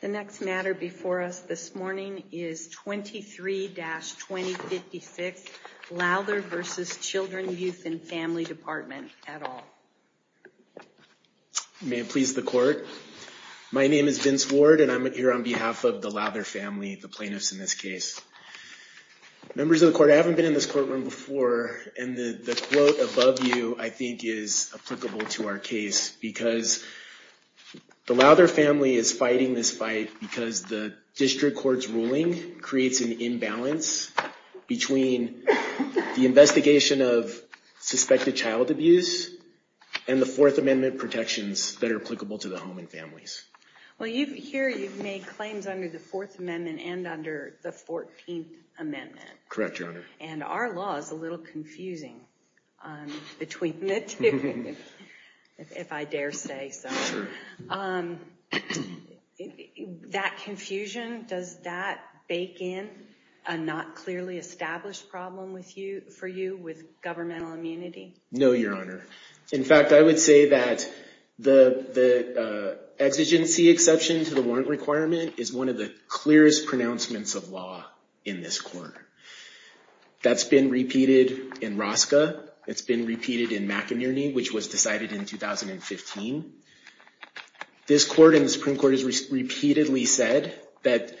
The next matter before us this morning is 23-2056, Lowther v. Children, Youth, and Family Department et al. May it please the court. My name is Vince Ward, and I'm here on behalf of the Lowther family, the plaintiffs in this case. Members of the court, I haven't been in this courtroom before. And the quote above you, I think, is applicable to our case because the Lowther family is fighting this fight because the district court's ruling creates an imbalance between the investigation of suspected child abuse and the Fourth Amendment protections that are applicable to the home and families. Well, here you've made claims under the Fourth Amendment and under the 14th Amendment. Correct, Your Honor. And our law is a little confusing between the two, if I dare say so. Sure. That confusion, does that bake in a not clearly established problem for you with governmental immunity? No, Your Honor. In fact, I would say that the exigency exception to the warrant requirement is one of the clearest pronouncements of law in this court. That's been repeated in Rosca. It's been repeated in McInerney, which was decided in 2015. This court and the Supreme Court has repeatedly said that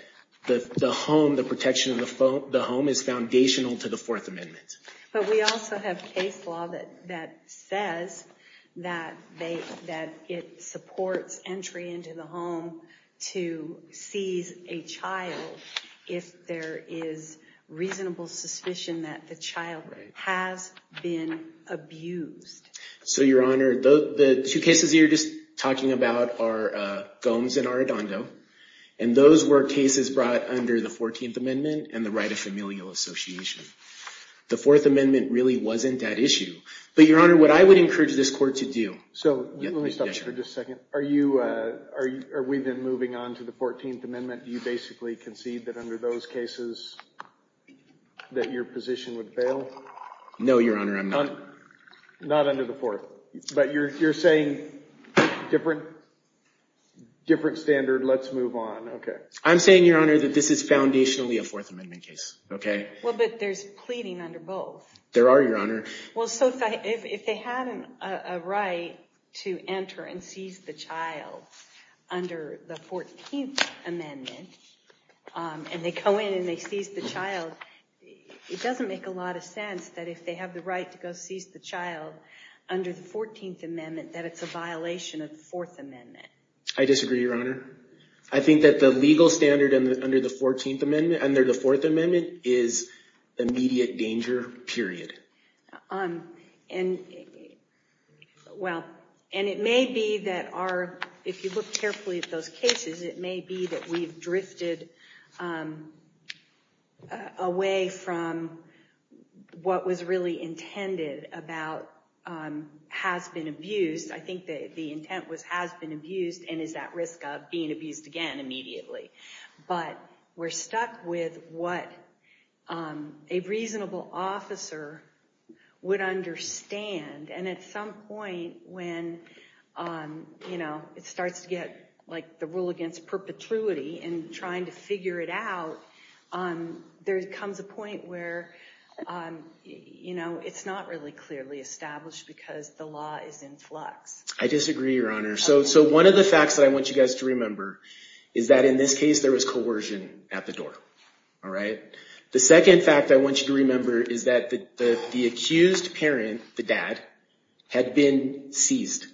the home, the protection of the home, is foundational to the Fourth Amendment. But we also have case law that says that it supports entry into the home to seize a child if there is reasonable suspicion that the child has been abused. So, Your Honor, the two cases you're just talking about are Gomes and Arradondo. And those were cases brought under the 14th Amendment and the right of familial association. The Fourth Amendment really wasn't that issue. But Your Honor, what I would encourage this court to do. So let me stop you for just a second. Are we then moving on to the 14th Amendment? Do you basically concede that under those cases that your position would fail? No, Your Honor, I'm not. Not under the Fourth. But you're saying different standard, let's move on. OK. I'm saying, Your Honor, that this is foundationally a Fourth Amendment case. Well, but there's pleading under both. There are, Your Honor. Well, so if they had a right to enter and seize the child under the 14th Amendment, and they go in and they seize the child, it doesn't make a lot of sense that if they have the right to go seize the child under the 14th Amendment, that it's a violation of the Fourth Amendment. I disagree, Your Honor. I think that the legal standard under the Fourth Amendment is immediate danger, period. And it may be that our, if you look carefully at those cases, it may be that we've drifted away from what was really intended about has been abused. I think that the intent was has been abused and is at risk of being abused again immediately. But we're stuck with what a reasonable officer would understand. And at some point when it starts to get the rule against perpetuity and trying to figure it out, there comes a point where it's not really clearly established because the law is in flux. I disagree, Your Honor. So one of the facts that I want you guys to remember is that in this case, there was coercion at the door. The second fact I want you to remember is that the accused parent, the dad, had been seized.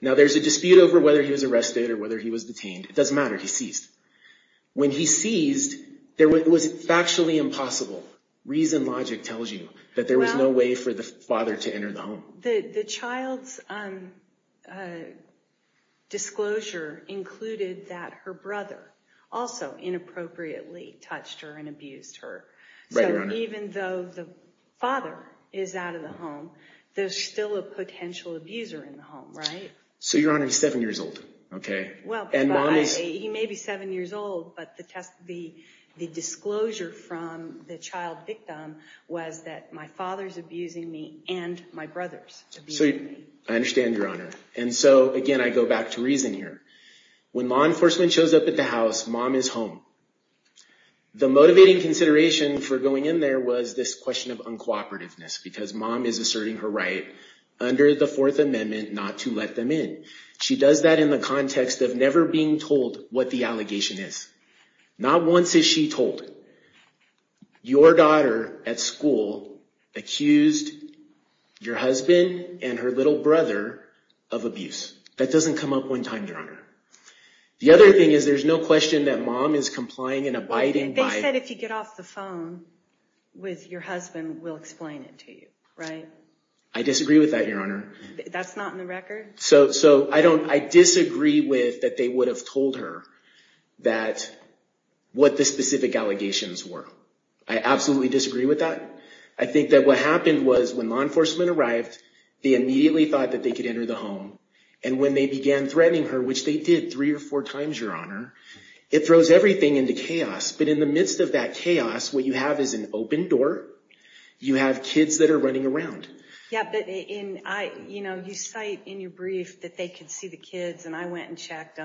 Now, there's a dispute over whether he was arrested or whether he was detained. It doesn't matter. He's seized. When he seized, it was factually impossible. Reason logic tells you that there was no way for the father to enter the home. The child's disclosure included that her brother also inappropriately touched her and abused her. Even though the father is out of the home, there's still a potential abuser in the home, right? So Your Honor, he's seven years old, OK? Well, he may be seven years old, but the disclosure from the child victim was that my father's abusing me and my brother's abusing me. I understand, Your Honor. And so again, I go back to reason here. When law enforcement shows up at the house, mom is home. The motivating consideration for going in there was this question of uncooperativeness because mom is asserting her right under the Fourth Amendment. She does that in the context of never being told what the allegation is. Not once is she told. Your daughter at school accused your husband and her little brother of abuse. That doesn't come up one time, Your Honor. The other thing is there's no question that mom is complying and abiding by it. They said if you get off the phone with your husband, we'll explain it to you, right? I disagree with that, Your Honor. That's not in the record? So I disagree with that they would have told her what the specific allegations were. I absolutely disagree with that. I think that what happened was when law enforcement arrived, they immediately thought that they could enter the home. And when they began threatening her, which they did three or four times, Your Honor, it throws everything into chaos. But in the midst of that chaos, what you have is an open door. You have kids that are running around. Yeah, but you cite in your brief that they could see the kids. And I went and checked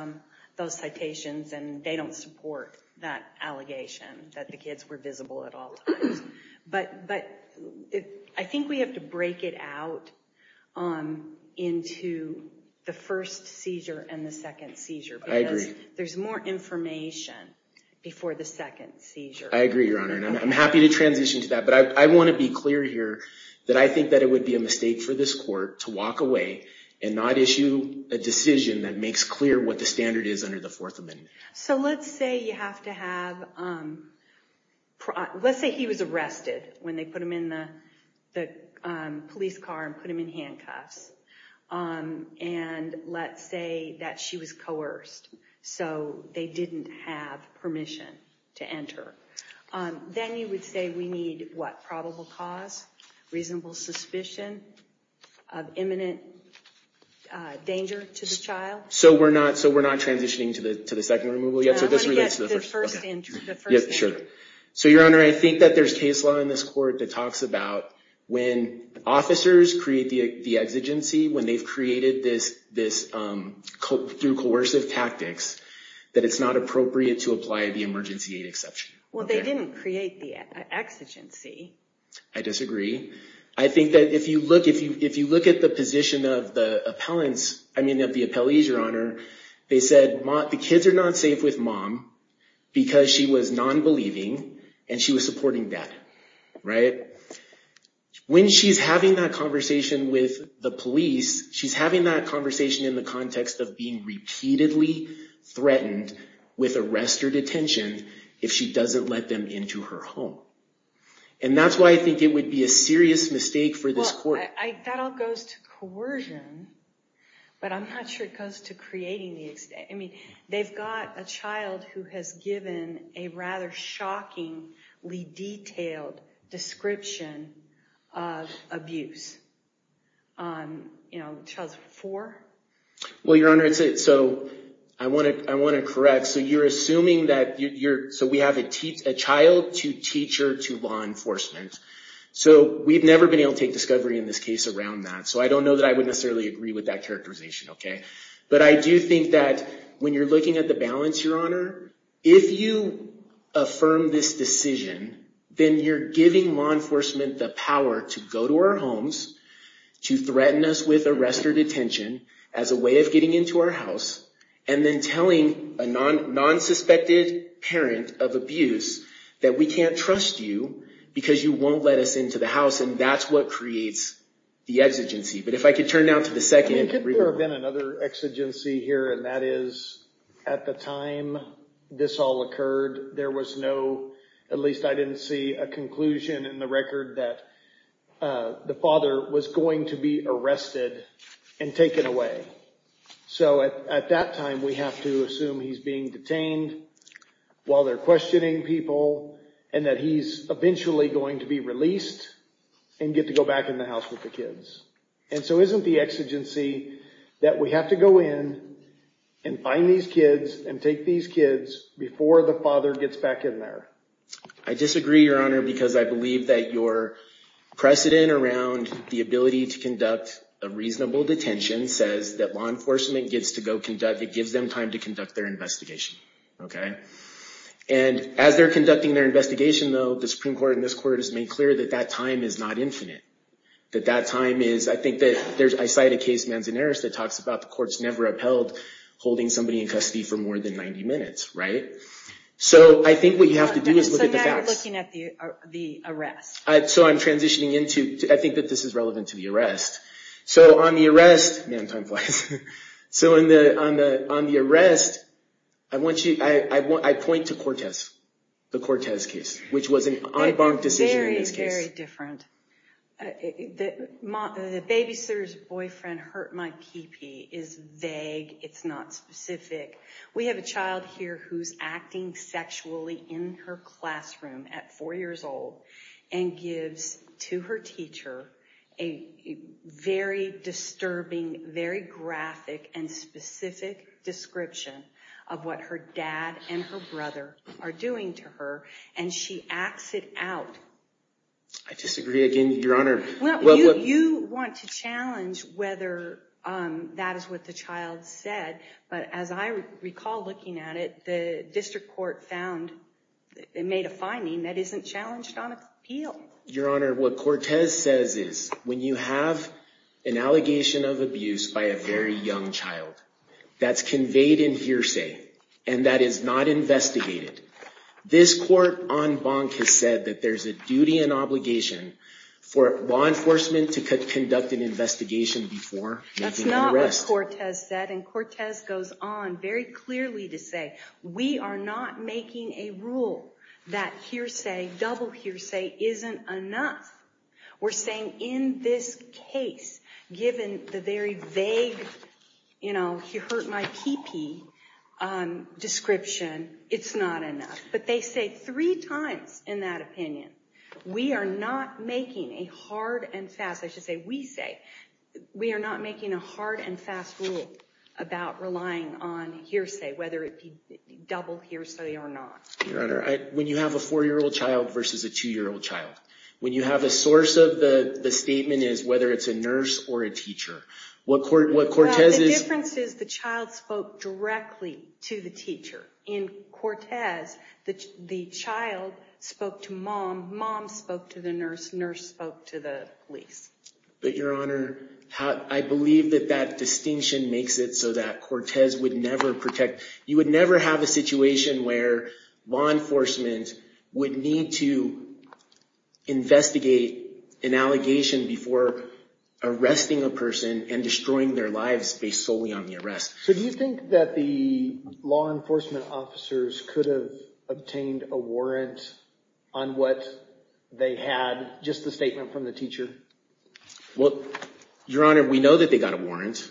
those citations. And they don't support that allegation, that the kids were visible at all times. But I think we have to break it out into the first seizure and the second seizure. I agree. There's more information before the second seizure. I agree, Your Honor. I'm happy to transition to that. But I want to be clear here that I think that it would be a mistake for this court to walk away and not issue a decision that makes clear what the standard is under the Fourth Amendment. So let's say he was arrested when they put him in the police car and put him in handcuffs. And let's say that she was coerced. So they didn't have permission to enter. Then you would say we need what? Suspicion of imminent danger to the child? So we're not transitioning to the second removal yet. So this relates to the first. I want to get to the first end. Sure. So Your Honor, I think that there's case law in this court that talks about when officers create the exigency, when they've created this through coercive tactics, that it's not appropriate to apply the emergency aid exception. Well, they didn't create the exigency. I disagree. I think that if you look at the position of the appellants, I mean, of the appellees, Your Honor, they said the kids are not safe with mom because she was non-believing and she was supporting dad. When she's having that conversation with the police, she's having that conversation in the context of being repeatedly threatened with arrest or detention if she doesn't let them into her home. And that's why I think it would be a serious mistake for this court. That all goes to coercion, but I'm not sure it goes to creating the exigency. I mean, they've got a child who has given a rather shockingly detailed description of abuse. Child's four? Well, Your Honor, so I want to correct. So you're assuming that you're, so we have a child, two teacher, two law enforcement. So we've never been able to take discovery in this case around that. So I don't know that I would necessarily agree with that characterization, OK? But I do think that when you're looking at the balance, Your Honor, if you affirm this decision, then you're giving law enforcement the power to go to our homes, to threaten us with arrest or detention as a way of getting into our house, and then telling a non-suspected parent of abuse that we can't trust you because you won't let us into the house. And that's what creates the exigency. But if I could turn now to the second. Could there have been another exigency here, and that is at the time this all occurred, there was no, at least I didn't see a conclusion in the record that the father was going to be arrested and taken away. So at that time, we have to assume he's being detained while they're questioning people, and that he's eventually going to be released and get to go back in the house with the kids. And so isn't the exigency that we have to go in and find these kids and take these kids before the father gets back in there? I disagree, Your Honor, because I believe that your precedent around the ability to conduct a reasonable detention says that law enforcement gets to go conduct, it gives them time to conduct their investigation. And as they're conducting their investigation, though, the Supreme Court and this court has made clear that that time is not infinite. That that time is, I think that there's, I cite a case, Manzanares, that talks about the courts never upheld holding somebody in custody for more than 90 minutes. So I think what you have to do is look at the facts. So now you're looking at the arrest. So I'm transitioning into, I think that this is relevant to the arrest. So on the arrest, man, time flies. So on the arrest, I point to Cortez, the Cortez case, which was an en banc decision in this case. Very, very different. The babysitter's boyfriend hurt my kipi is vague. It's not specific. We have a child here who's acting sexually in her classroom at four years old and gives to her teacher a very disturbing, very graphic and specific description of what her dad and her brother are doing to her. And she acts it out. I disagree again, Your Honor. Well, you want to challenge whether that is what the child said. But as I recall looking at it, the district court found and made a finding that isn't challenged on appeal. Your Honor, what Cortez says is, when you have an allegation of abuse by a very young child, that's conveyed in hearsay. And that is not investigated. This court en banc has said that there's a duty and obligation for law enforcement to conduct an investigation before making an arrest. That's not what Cortez said. And Cortez goes on very clearly to say, we are not making a rule that hearsay, double hearsay, isn't enough. We're saying, in this case, given the very vague, you know, he hurt my pee-pee description, it's not enough. But they say three times in that opinion, we are not making a hard and fast, I should say, we say, we are not making a hard and fast rule about relying on hearsay, whether it be double hearsay or not. Your Honor, when you have a four-year-old child versus a two-year-old child, when you have a source of the statement is whether it's a nurse or a teacher. What Cortez is. The difference is the child spoke directly to the teacher. In Cortez, the child spoke to mom. Mom spoke to the nurse. Nurse spoke to the police. But Your Honor, I believe that that distinction makes it so that Cortez would never protect. You would never have a situation where law enforcement would need to investigate an allegation before arresting a person and destroying their lives based solely on the arrest. So do you think that the law enforcement officers could have obtained a warrant on what they had, just the statement from the teacher? Well, Your Honor, we know that they got a warrant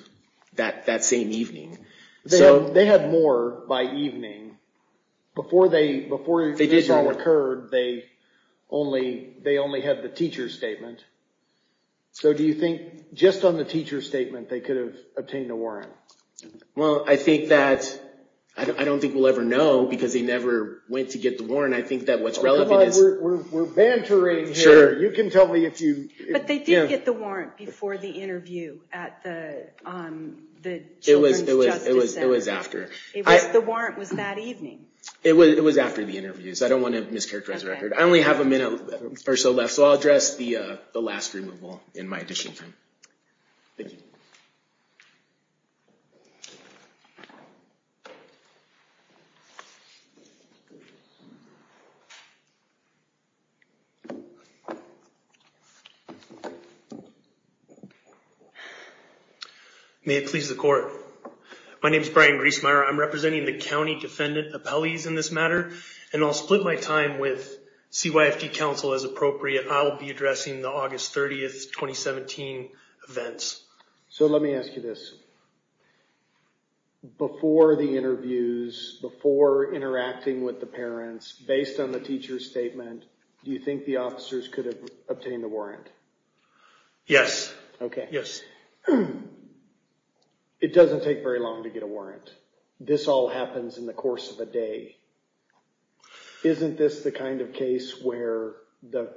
that same evening. They had more by evening. Before this all occurred, they only had the teacher's statement. So do you think just on the teacher's statement, they could have obtained a warrant? Well, I think that, I don't think we'll ever know, because they never went to get the warrant. I think that what's relevant is. We're bantering here. You can tell me if you. But they did get the warrant before the interview at the Children's Justice Center. It was after. The warrant was that evening. It was after the interview, so I don't want to mischaracterize the record. I only have a minute or so left, so I'll address the last removal in my additional time. Thank you. May it please the court. My name is Brian Griesmeier. I'm representing the county defendant appellees in this matter. And I'll split my time with CYFD counsel as appropriate. I'll be addressing the August 30, 2017 events. So let me ask you this. Before the interviews, before interacting with the parents, based on the teacher's statement, do you think the officers could have obtained a warrant? Yes. OK. Yes. It doesn't take very long to get a warrant. This all happens in the course of a day. Isn't this the kind of case where the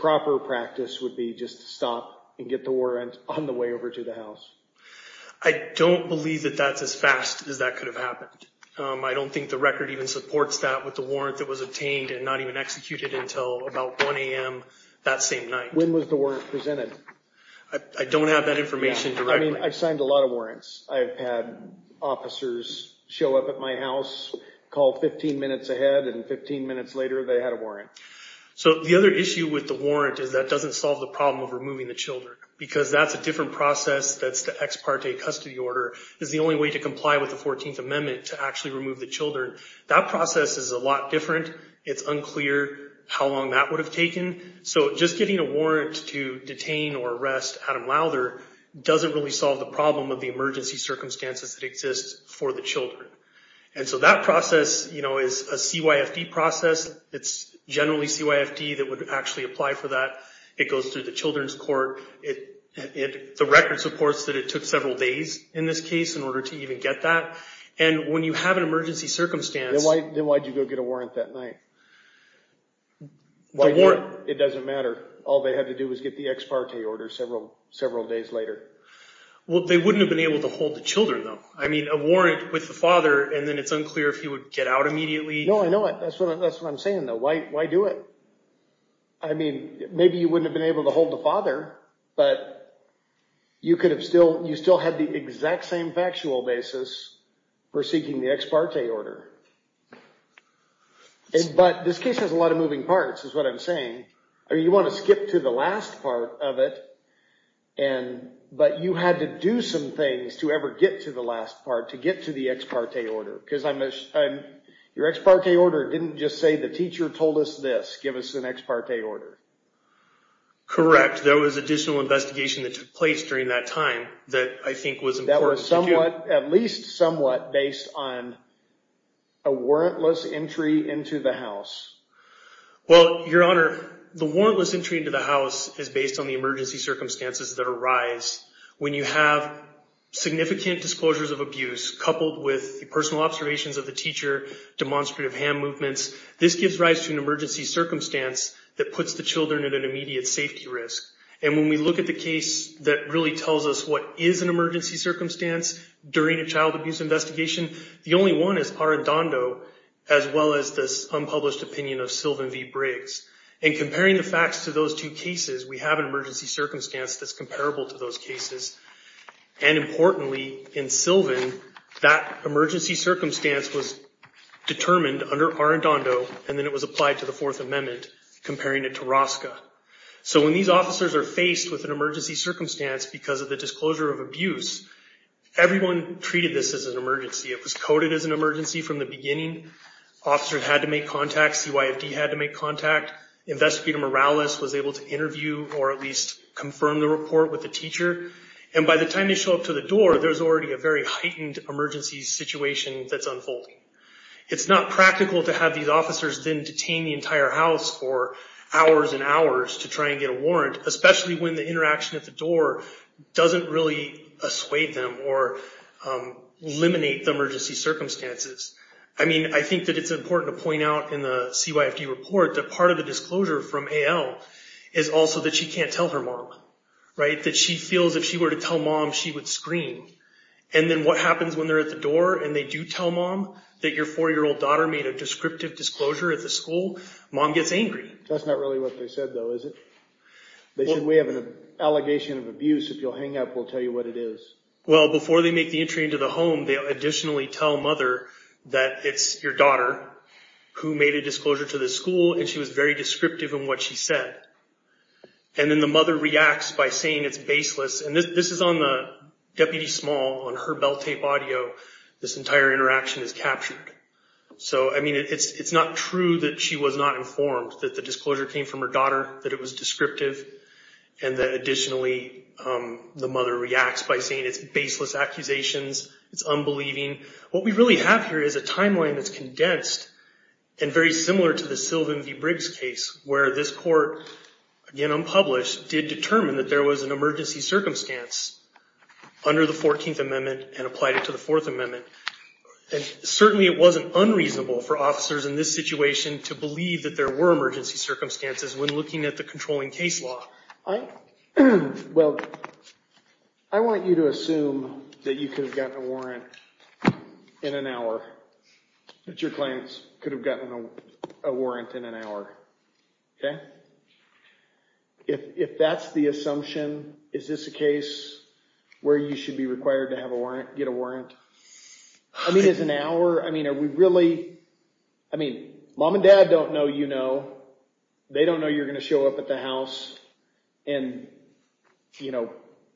proper practice would be just to stop and get the warrant on the way over to the house? I don't believe that that's as fast as that could have happened. I don't think the record even supports that with the warrant that was obtained and not even executed until about 1 AM that same night. When was the warrant presented? I don't have that information. I've signed a lot of warrants. I've had officers show up at my house, call 15 minutes ahead, and 15 minutes later, they had a warrant. So the other issue with the warrant is that doesn't solve the problem of removing the children. Because that's a different process that's the ex parte custody order is the only way to comply with the 14th Amendment to actually remove the children. That process is a lot different. It's unclear how long that would have taken. So just getting a warrant to detain or arrest Adam Lowther doesn't really solve the problem of the emergency circumstances that exist for the children. And so that process is a CYFD process. It's generally CYFD that would actually apply for that. It goes through the Children's Court. The record supports that it took several days in this case in order to even get that. And when you have an emergency circumstance. Then why'd you go get a warrant that night? The warrant. It doesn't matter. All they had to do was get the ex parte order several days later. Well, they wouldn't have been able to hold the children, though. I mean, a warrant with the father, and then it's unclear if he would get out immediately. No, I know it. That's what I'm saying, though. Why do it? I mean, maybe you wouldn't have been able to hold the father. But you could have still had the exact same factual basis for seeking the ex parte order. But this case has a lot of moving parts, is what I'm saying. I mean, you want to skip to the last part of it. But you had to do some things to ever get to the last part, to get to the ex parte order. Because your ex parte order didn't just say the teacher told us this. Give us an ex parte order. Correct. There was additional investigation that took place during that time that I think was important. At least somewhat based on a warrantless entry into the house. Well, Your Honor, the warrantless entry into the house is based on the emergency circumstances that arise when you have significant disclosures of abuse coupled with the personal observations of the teacher, demonstrative hand movements. This gives rise to an emergency circumstance that puts the children at an immediate safety risk. And when we look at the case that really tells us what is an emergency circumstance during a child abuse investigation, the only one is Arradondo, as well as this unpublished opinion of Sylvan V. Briggs. And comparing the facts to those two cases, we have an emergency circumstance that's comparable to those cases. And importantly, in Sylvan, that emergency circumstance was determined under Arradondo, and then it was applied to the Fourth Amendment, comparing it to Rosca. So when these officers are faced with an emergency circumstance because of the disclosure of abuse, everyone treated this as an emergency. It was coded as an emergency from the beginning. Officers had to make contact. CYFD had to make contact. Investigator Morales was able to interview or at least confirm the report with the teacher. And by the time they show up to the door, there's already a very heightened emergency situation that's unfolding. It's not practical to have these officers then detain the entire house for hours and hours to try and get a warrant, especially when the interaction at the door doesn't really assuade them or eliminate the emergency circumstances. I mean, I think that it's important to point out in the CYFD report that part of the disclosure from AL is also that she can't tell her mom, that she feels if she were to tell mom, she would scream. And then what happens when they're at the door and they do tell mom that your four-year-old daughter made a descriptive disclosure at the school? Mom gets angry. That's not really what they said, though, is it? They said, we have an allegation of abuse. If you'll hang up, we'll tell you what it is. Well, before they make the entry into the home, they'll additionally tell mother that it's your daughter who made a disclosure to the school, and she was very descriptive in what she said. And then the mother reacts by saying it's baseless. And this is on the Deputy Small, on her bell tape audio. This entire interaction is captured. So I mean, it's not true that she was not informed that the disclosure came from her daughter, that it was descriptive, and that, additionally, the mother reacts by saying it's baseless accusations, it's unbelieving. What we really have here is a timeline that's condensed and very similar to the Sylvan v. Briggs case, where this court, again unpublished, did determine that there was an emergency circumstance under the 14th Amendment and applied it to the Fourth Amendment. And certainly, it wasn't unreasonable for officers in this situation to believe that there were emergency circumstances when looking at the controlling case law. Well, I want you to assume that you could have gotten a warrant in an hour, that your clients could have gotten a warrant in an hour, OK? If that's the assumption, is this a case where you should be required to get a warrant? I mean, is an hour? I mean, are we really? I mean, mom and dad don't know you know. They don't know you're going to show up at the house and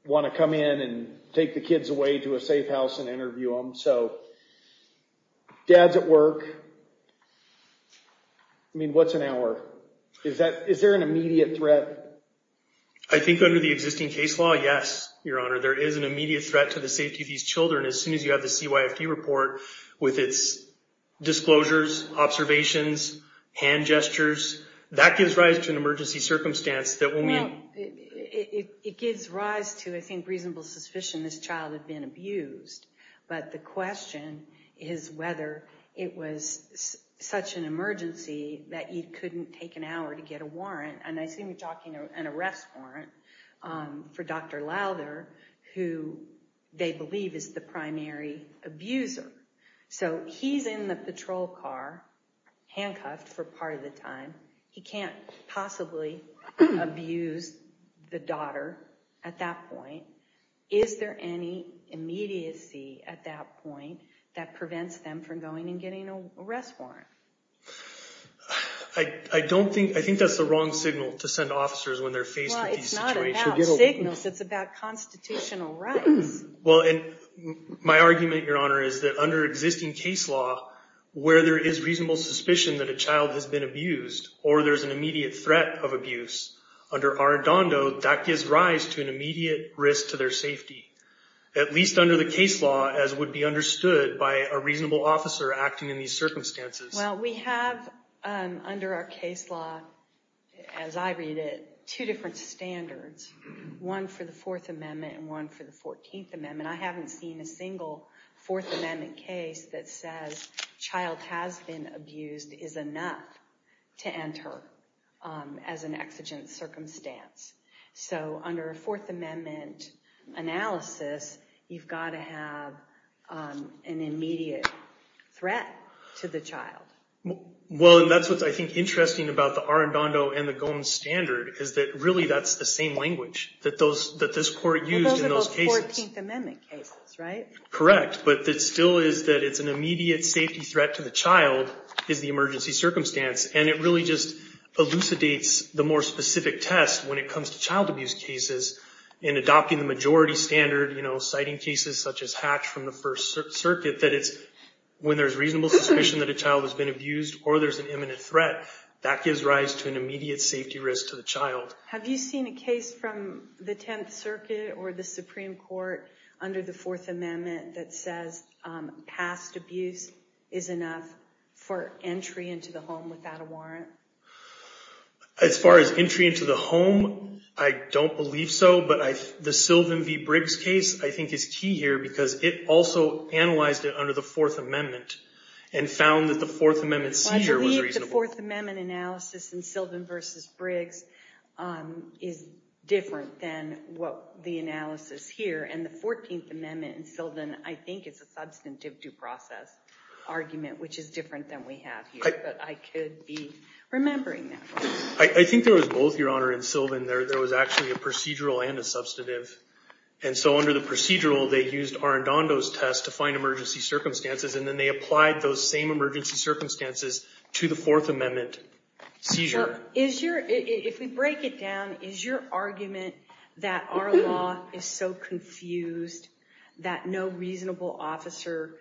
want to come in and take the kids away to a safe house and interview them. So dad's at work. I mean, what's an hour? Is there an immediate threat? I think under the existing case law, yes, Your Honor. There is an immediate threat to the safety of these children as soon as you have the CYFD report with its disclosures, observations, hand gestures. That gives rise to an emergency circumstance that will mean. It gives rise to, I think, reasonable suspicion this child had been abused. But the question is whether it was such an emergency that you couldn't take an hour to get a warrant. And I see you talking an arrest warrant for Dr. Lowther, who they believe is the primary abuser. So he's in the patrol car, handcuffed for part of the time. He can't possibly abuse the daughter at that point. Is there any immediacy at that point that prevents them from going and getting an arrest warrant? I don't think. I think that's the wrong signal to send officers when they're faced with these situations. It's not about signals. It's about constitutional rights. Well, and my argument, Your Honor, is that under existing case law, where there is reasonable suspicion that a child has been abused or there's an immediate threat of abuse, under Arradondo, that gives rise to an immediate risk to their safety. At least under the case law, as would be understood by a reasonable officer acting in these circumstances. Well, we have under our case law, as I read it, two different standards. One for the Fourth Amendment, and one for the Fourteenth Amendment. I haven't seen a single Fourth Amendment case that says child has been abused is enough to enter as an exigent circumstance. So under a Fourth Amendment analysis, you've got to have an immediate threat to the child. Well, and that's what I think interesting about the Arradondo and the Gomes standard, is that really, that's the same language that this court used in those cases. Well, those are both Fourteenth Amendment cases, right? Correct. But it still is that it's an immediate safety threat to the child is the emergency circumstance. And it really just elucidates the more specific test when it comes to child abuse cases in adopting the majority standard, citing cases such as Hatch from the First Circuit, that it's when there's reasonable suspicion that a child has been abused or there's an imminent threat, that gives rise to an immediate safety risk to the child. Have you seen a case from the Tenth Circuit or the Supreme Court under the Fourth Amendment that says past abuse is enough for entry into the home without a warrant? As far as entry into the home, I don't believe so. But the Sylvan v. Briggs case, I think, is key here because it also analyzed it under the Fourth Amendment and found that the Fourth Amendment seizure was reasonable. The Fourth Amendment analysis in Sylvan v. Briggs is different than the analysis here. And the Fourteenth Amendment in Sylvan, I think, is a substantive due process argument, which is different than we have here. But I could be remembering that. I think there was both, Your Honor, in Sylvan. There was actually a procedural and a substantive. And so under the procedural, they used Arradondo's test to find emergency circumstances. And then they applied those same emergency circumstances to the Fourth Amendment seizure. If we break it down, is your argument that our law is so confused that no reasonable officer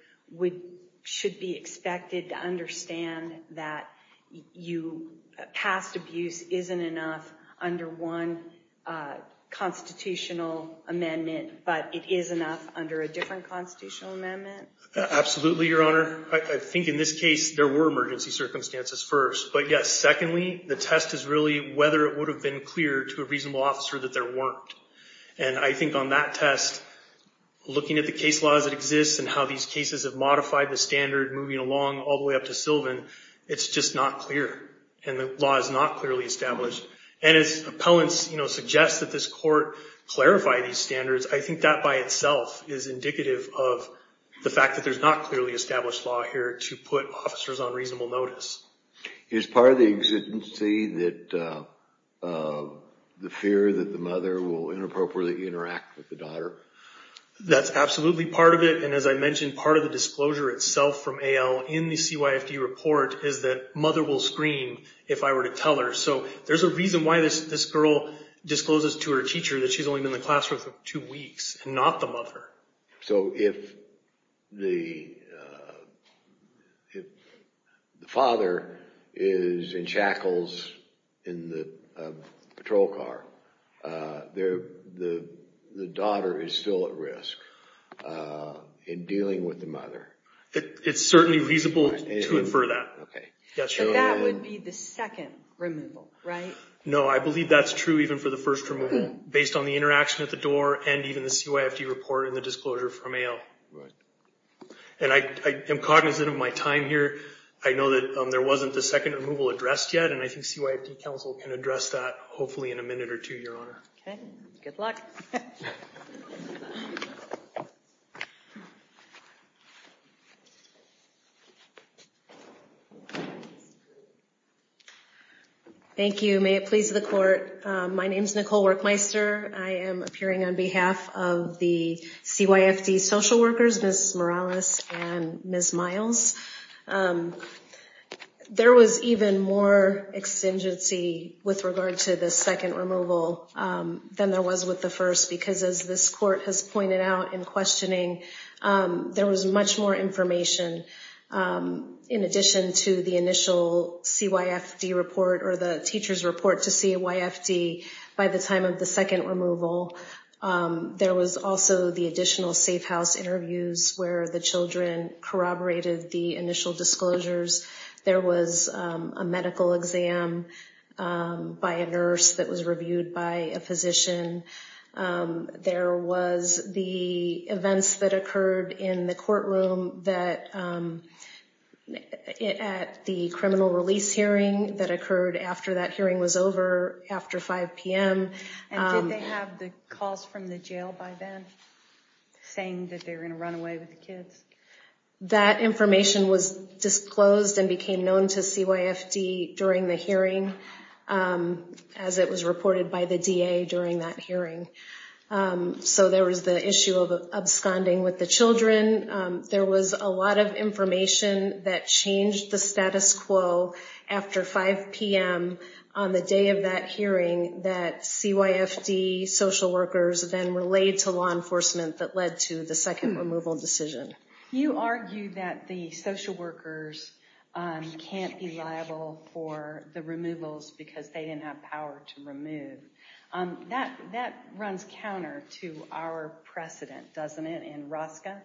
should be expected to understand that past abuse isn't enough under one constitutional amendment, but it is enough under a different constitutional amendment? Absolutely, Your Honor. I think in this case, there were emergency circumstances first. But yes, secondly, the test is really whether it would have been clear to a reasonable officer that there weren't. And I think on that test, looking at the case laws that exist and how these cases have modified the standard moving along all the way up to Sylvan, it's just not clear. And the law is not clearly established. And as appellants suggest that this court clarify these standards, I think that by itself is indicative of the fact that there's not a clearly established law here to put officers on reasonable notice. Is part of the exigency that the fear that the mother will inappropriately interact with the daughter? That's absolutely part of it. And as I mentioned, part of the disclosure itself from AL in the CYFD report is that mother will scream if I were to tell her. So there's a reason why this girl discloses to her teacher that she's only been in the classroom for two weeks and not the mother. So if the father is in shackles in the patrol car, the daughter is still at risk in dealing with the mother. It's certainly reasonable to infer that. OK. Yes. So that would be the second removal, right? No, I believe that's true even for the first removal. Based on the interaction at the door and even the CYFD report and the disclosure from AL. And I am cognizant of my time here. I know that there wasn't the second removal addressed yet. And I think CYFD counsel can address that hopefully in a minute or two, Your Honor. Good luck. Thank you. May it please the court. My name is Nicole Workmeister. I am appearing on behalf of the CYFD social workers, Ms. Morales and Ms. Miles. There was even more extinguish with regard to the second removal than there was with the first. Because as this court has pointed out in questioning, there was much more information in addition to the initial CYFD report or the teacher's report to CYFD by the time of the second removal. There was also the additional safe house interviews where the children corroborated the initial disclosures. There was a medical exam by a nurse that was reviewed by a physician. There was the events that occurred in the courtroom that at the criminal release hearing that And did they have the calls from the jail by then saying that they were going to run away with the kids? That information was disclosed and became known to CYFD during the hearing, as it was reported by the DA during that hearing. So there was the issue of absconding with the children. There was a lot of information that changed the status quo after 5 PM on the day of that hearing that CYFD social workers then relayed to law enforcement that led to the second removal decision. You argue that the social workers can't be liable for the removals because they didn't have power to remove. That runs counter to our precedent, doesn't it, in ROSCA?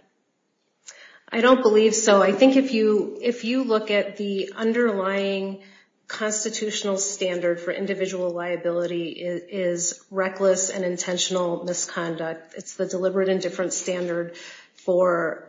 I don't believe so. I think if you look at the underlying constitutional standard for individual liability, it is reckless and intentional misconduct. It's the deliberate and different standard for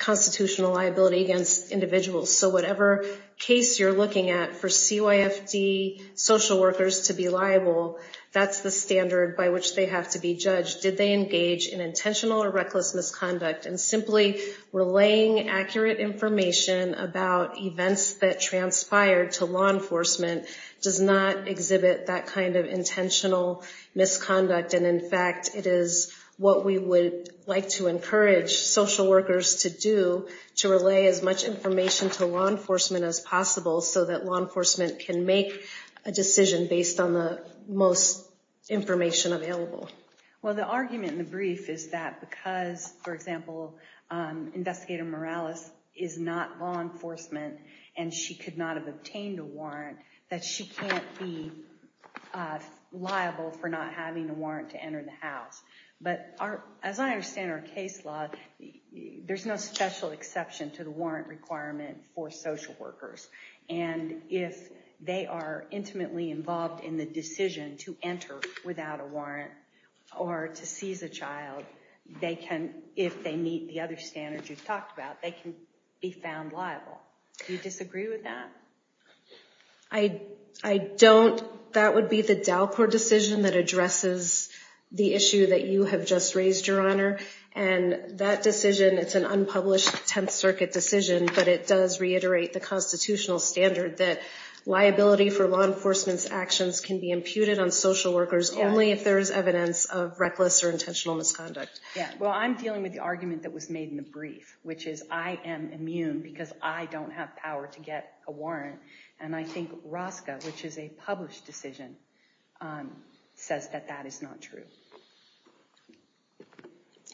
constitutional liability against individuals. So whatever case you're looking at for CYFD social workers to be liable, that's the standard by which they have to be judged. Did they engage in intentional or reckless misconduct? And simply relaying accurate information about events that transpired to law enforcement does not exhibit that kind of intentional misconduct. And in fact, it is what we would like to encourage social workers to do, to relay as much information to law enforcement as possible so that law enforcement can make a decision based on the most information available. Well, the argument in the brief is that because, for example, Investigator Morales is not law enforcement and she could not have obtained a warrant, that she can't be liable for not having the warrant to enter the house. But as I understand our case law, there's no special exception to the warrant requirement for social workers. And if they are intimately involved in the decision to enter without a warrant or to seize a child, they can, if they meet the other standards you've talked about, they can be found liable. Do you disagree with that? I don't. That would be the DALCOR decision that addresses the issue that you have just raised, Your Honor. And that decision, it's an unpublished 10th Circuit decision, but it does reiterate the constitutional standard that liability for law enforcement's actions can be imputed on social workers only if there is evidence of reckless or intentional misconduct. Well, I'm dealing with the argument that was made in the brief, which is I am immune because I don't have power to get a warrant. And I think ROSCA, which is a published decision, says that that is not true.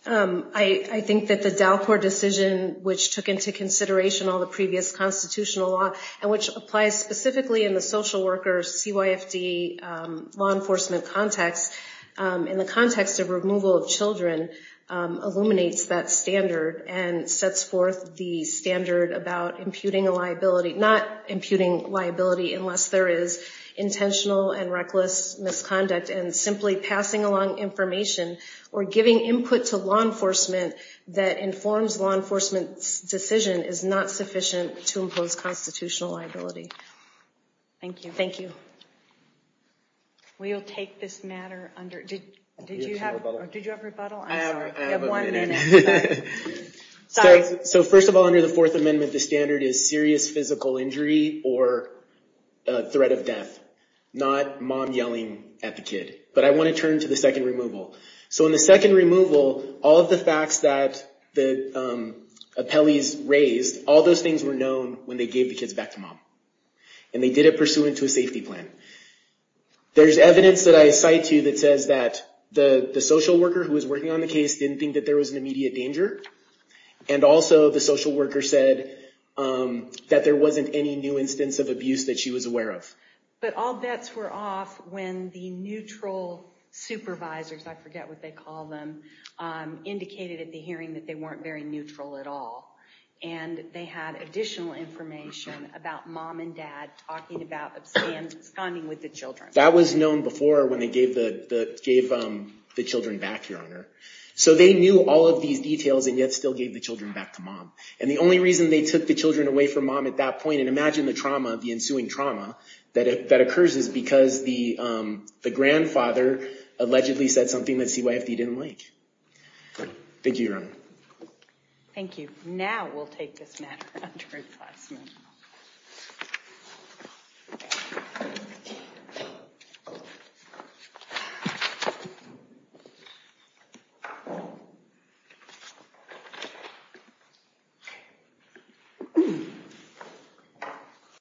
I think that the DALCOR decision, which took into consideration all the previous constitutional law and which applies specifically in the social workers, CYFD, law enforcement context, in the context of removal of children illuminates that standard and sets forth the standard about imputing a liability, not imputing liability unless there is intentional and reckless misconduct. And simply passing along information or giving input to law enforcement that informs law enforcement's decision is not sufficient to impose constitutional liability. Thank you. Thank you. We'll take this matter under. Did you have a rebuttal? Did you have a rebuttal? I'm sorry. You have one minute. So first of all, under the Fourth Amendment, the standard is serious physical injury or threat of death, not mom yelling at the kid. But I want to turn to the second removal. So in the second removal, all of the facts that the appellees raised, all those things were known when they gave the kids back to mom. And they did it pursuant to a safety plan. There's evidence that I cite to that says that the social worker who was working on the case didn't think that there was an immediate danger. And also, the social worker said that there wasn't any new instance of abuse that she was aware of. But all bets were off when the neutral supervisors, I forget what they call them, indicated at the hearing that they weren't very neutral at all. And they had additional information about mom and dad talking about absconding with the children. That was known before when they gave the children back, Your Honor. So they knew all of these details and yet still gave the children back to mom. And the only reason they took the children away from mom at that point, and imagine the trauma, the ensuing trauma that occurs, is because the grandfather allegedly said something that CYFD didn't like. Thank you, Your Honor. Thank you. Now we'll take this matter under review.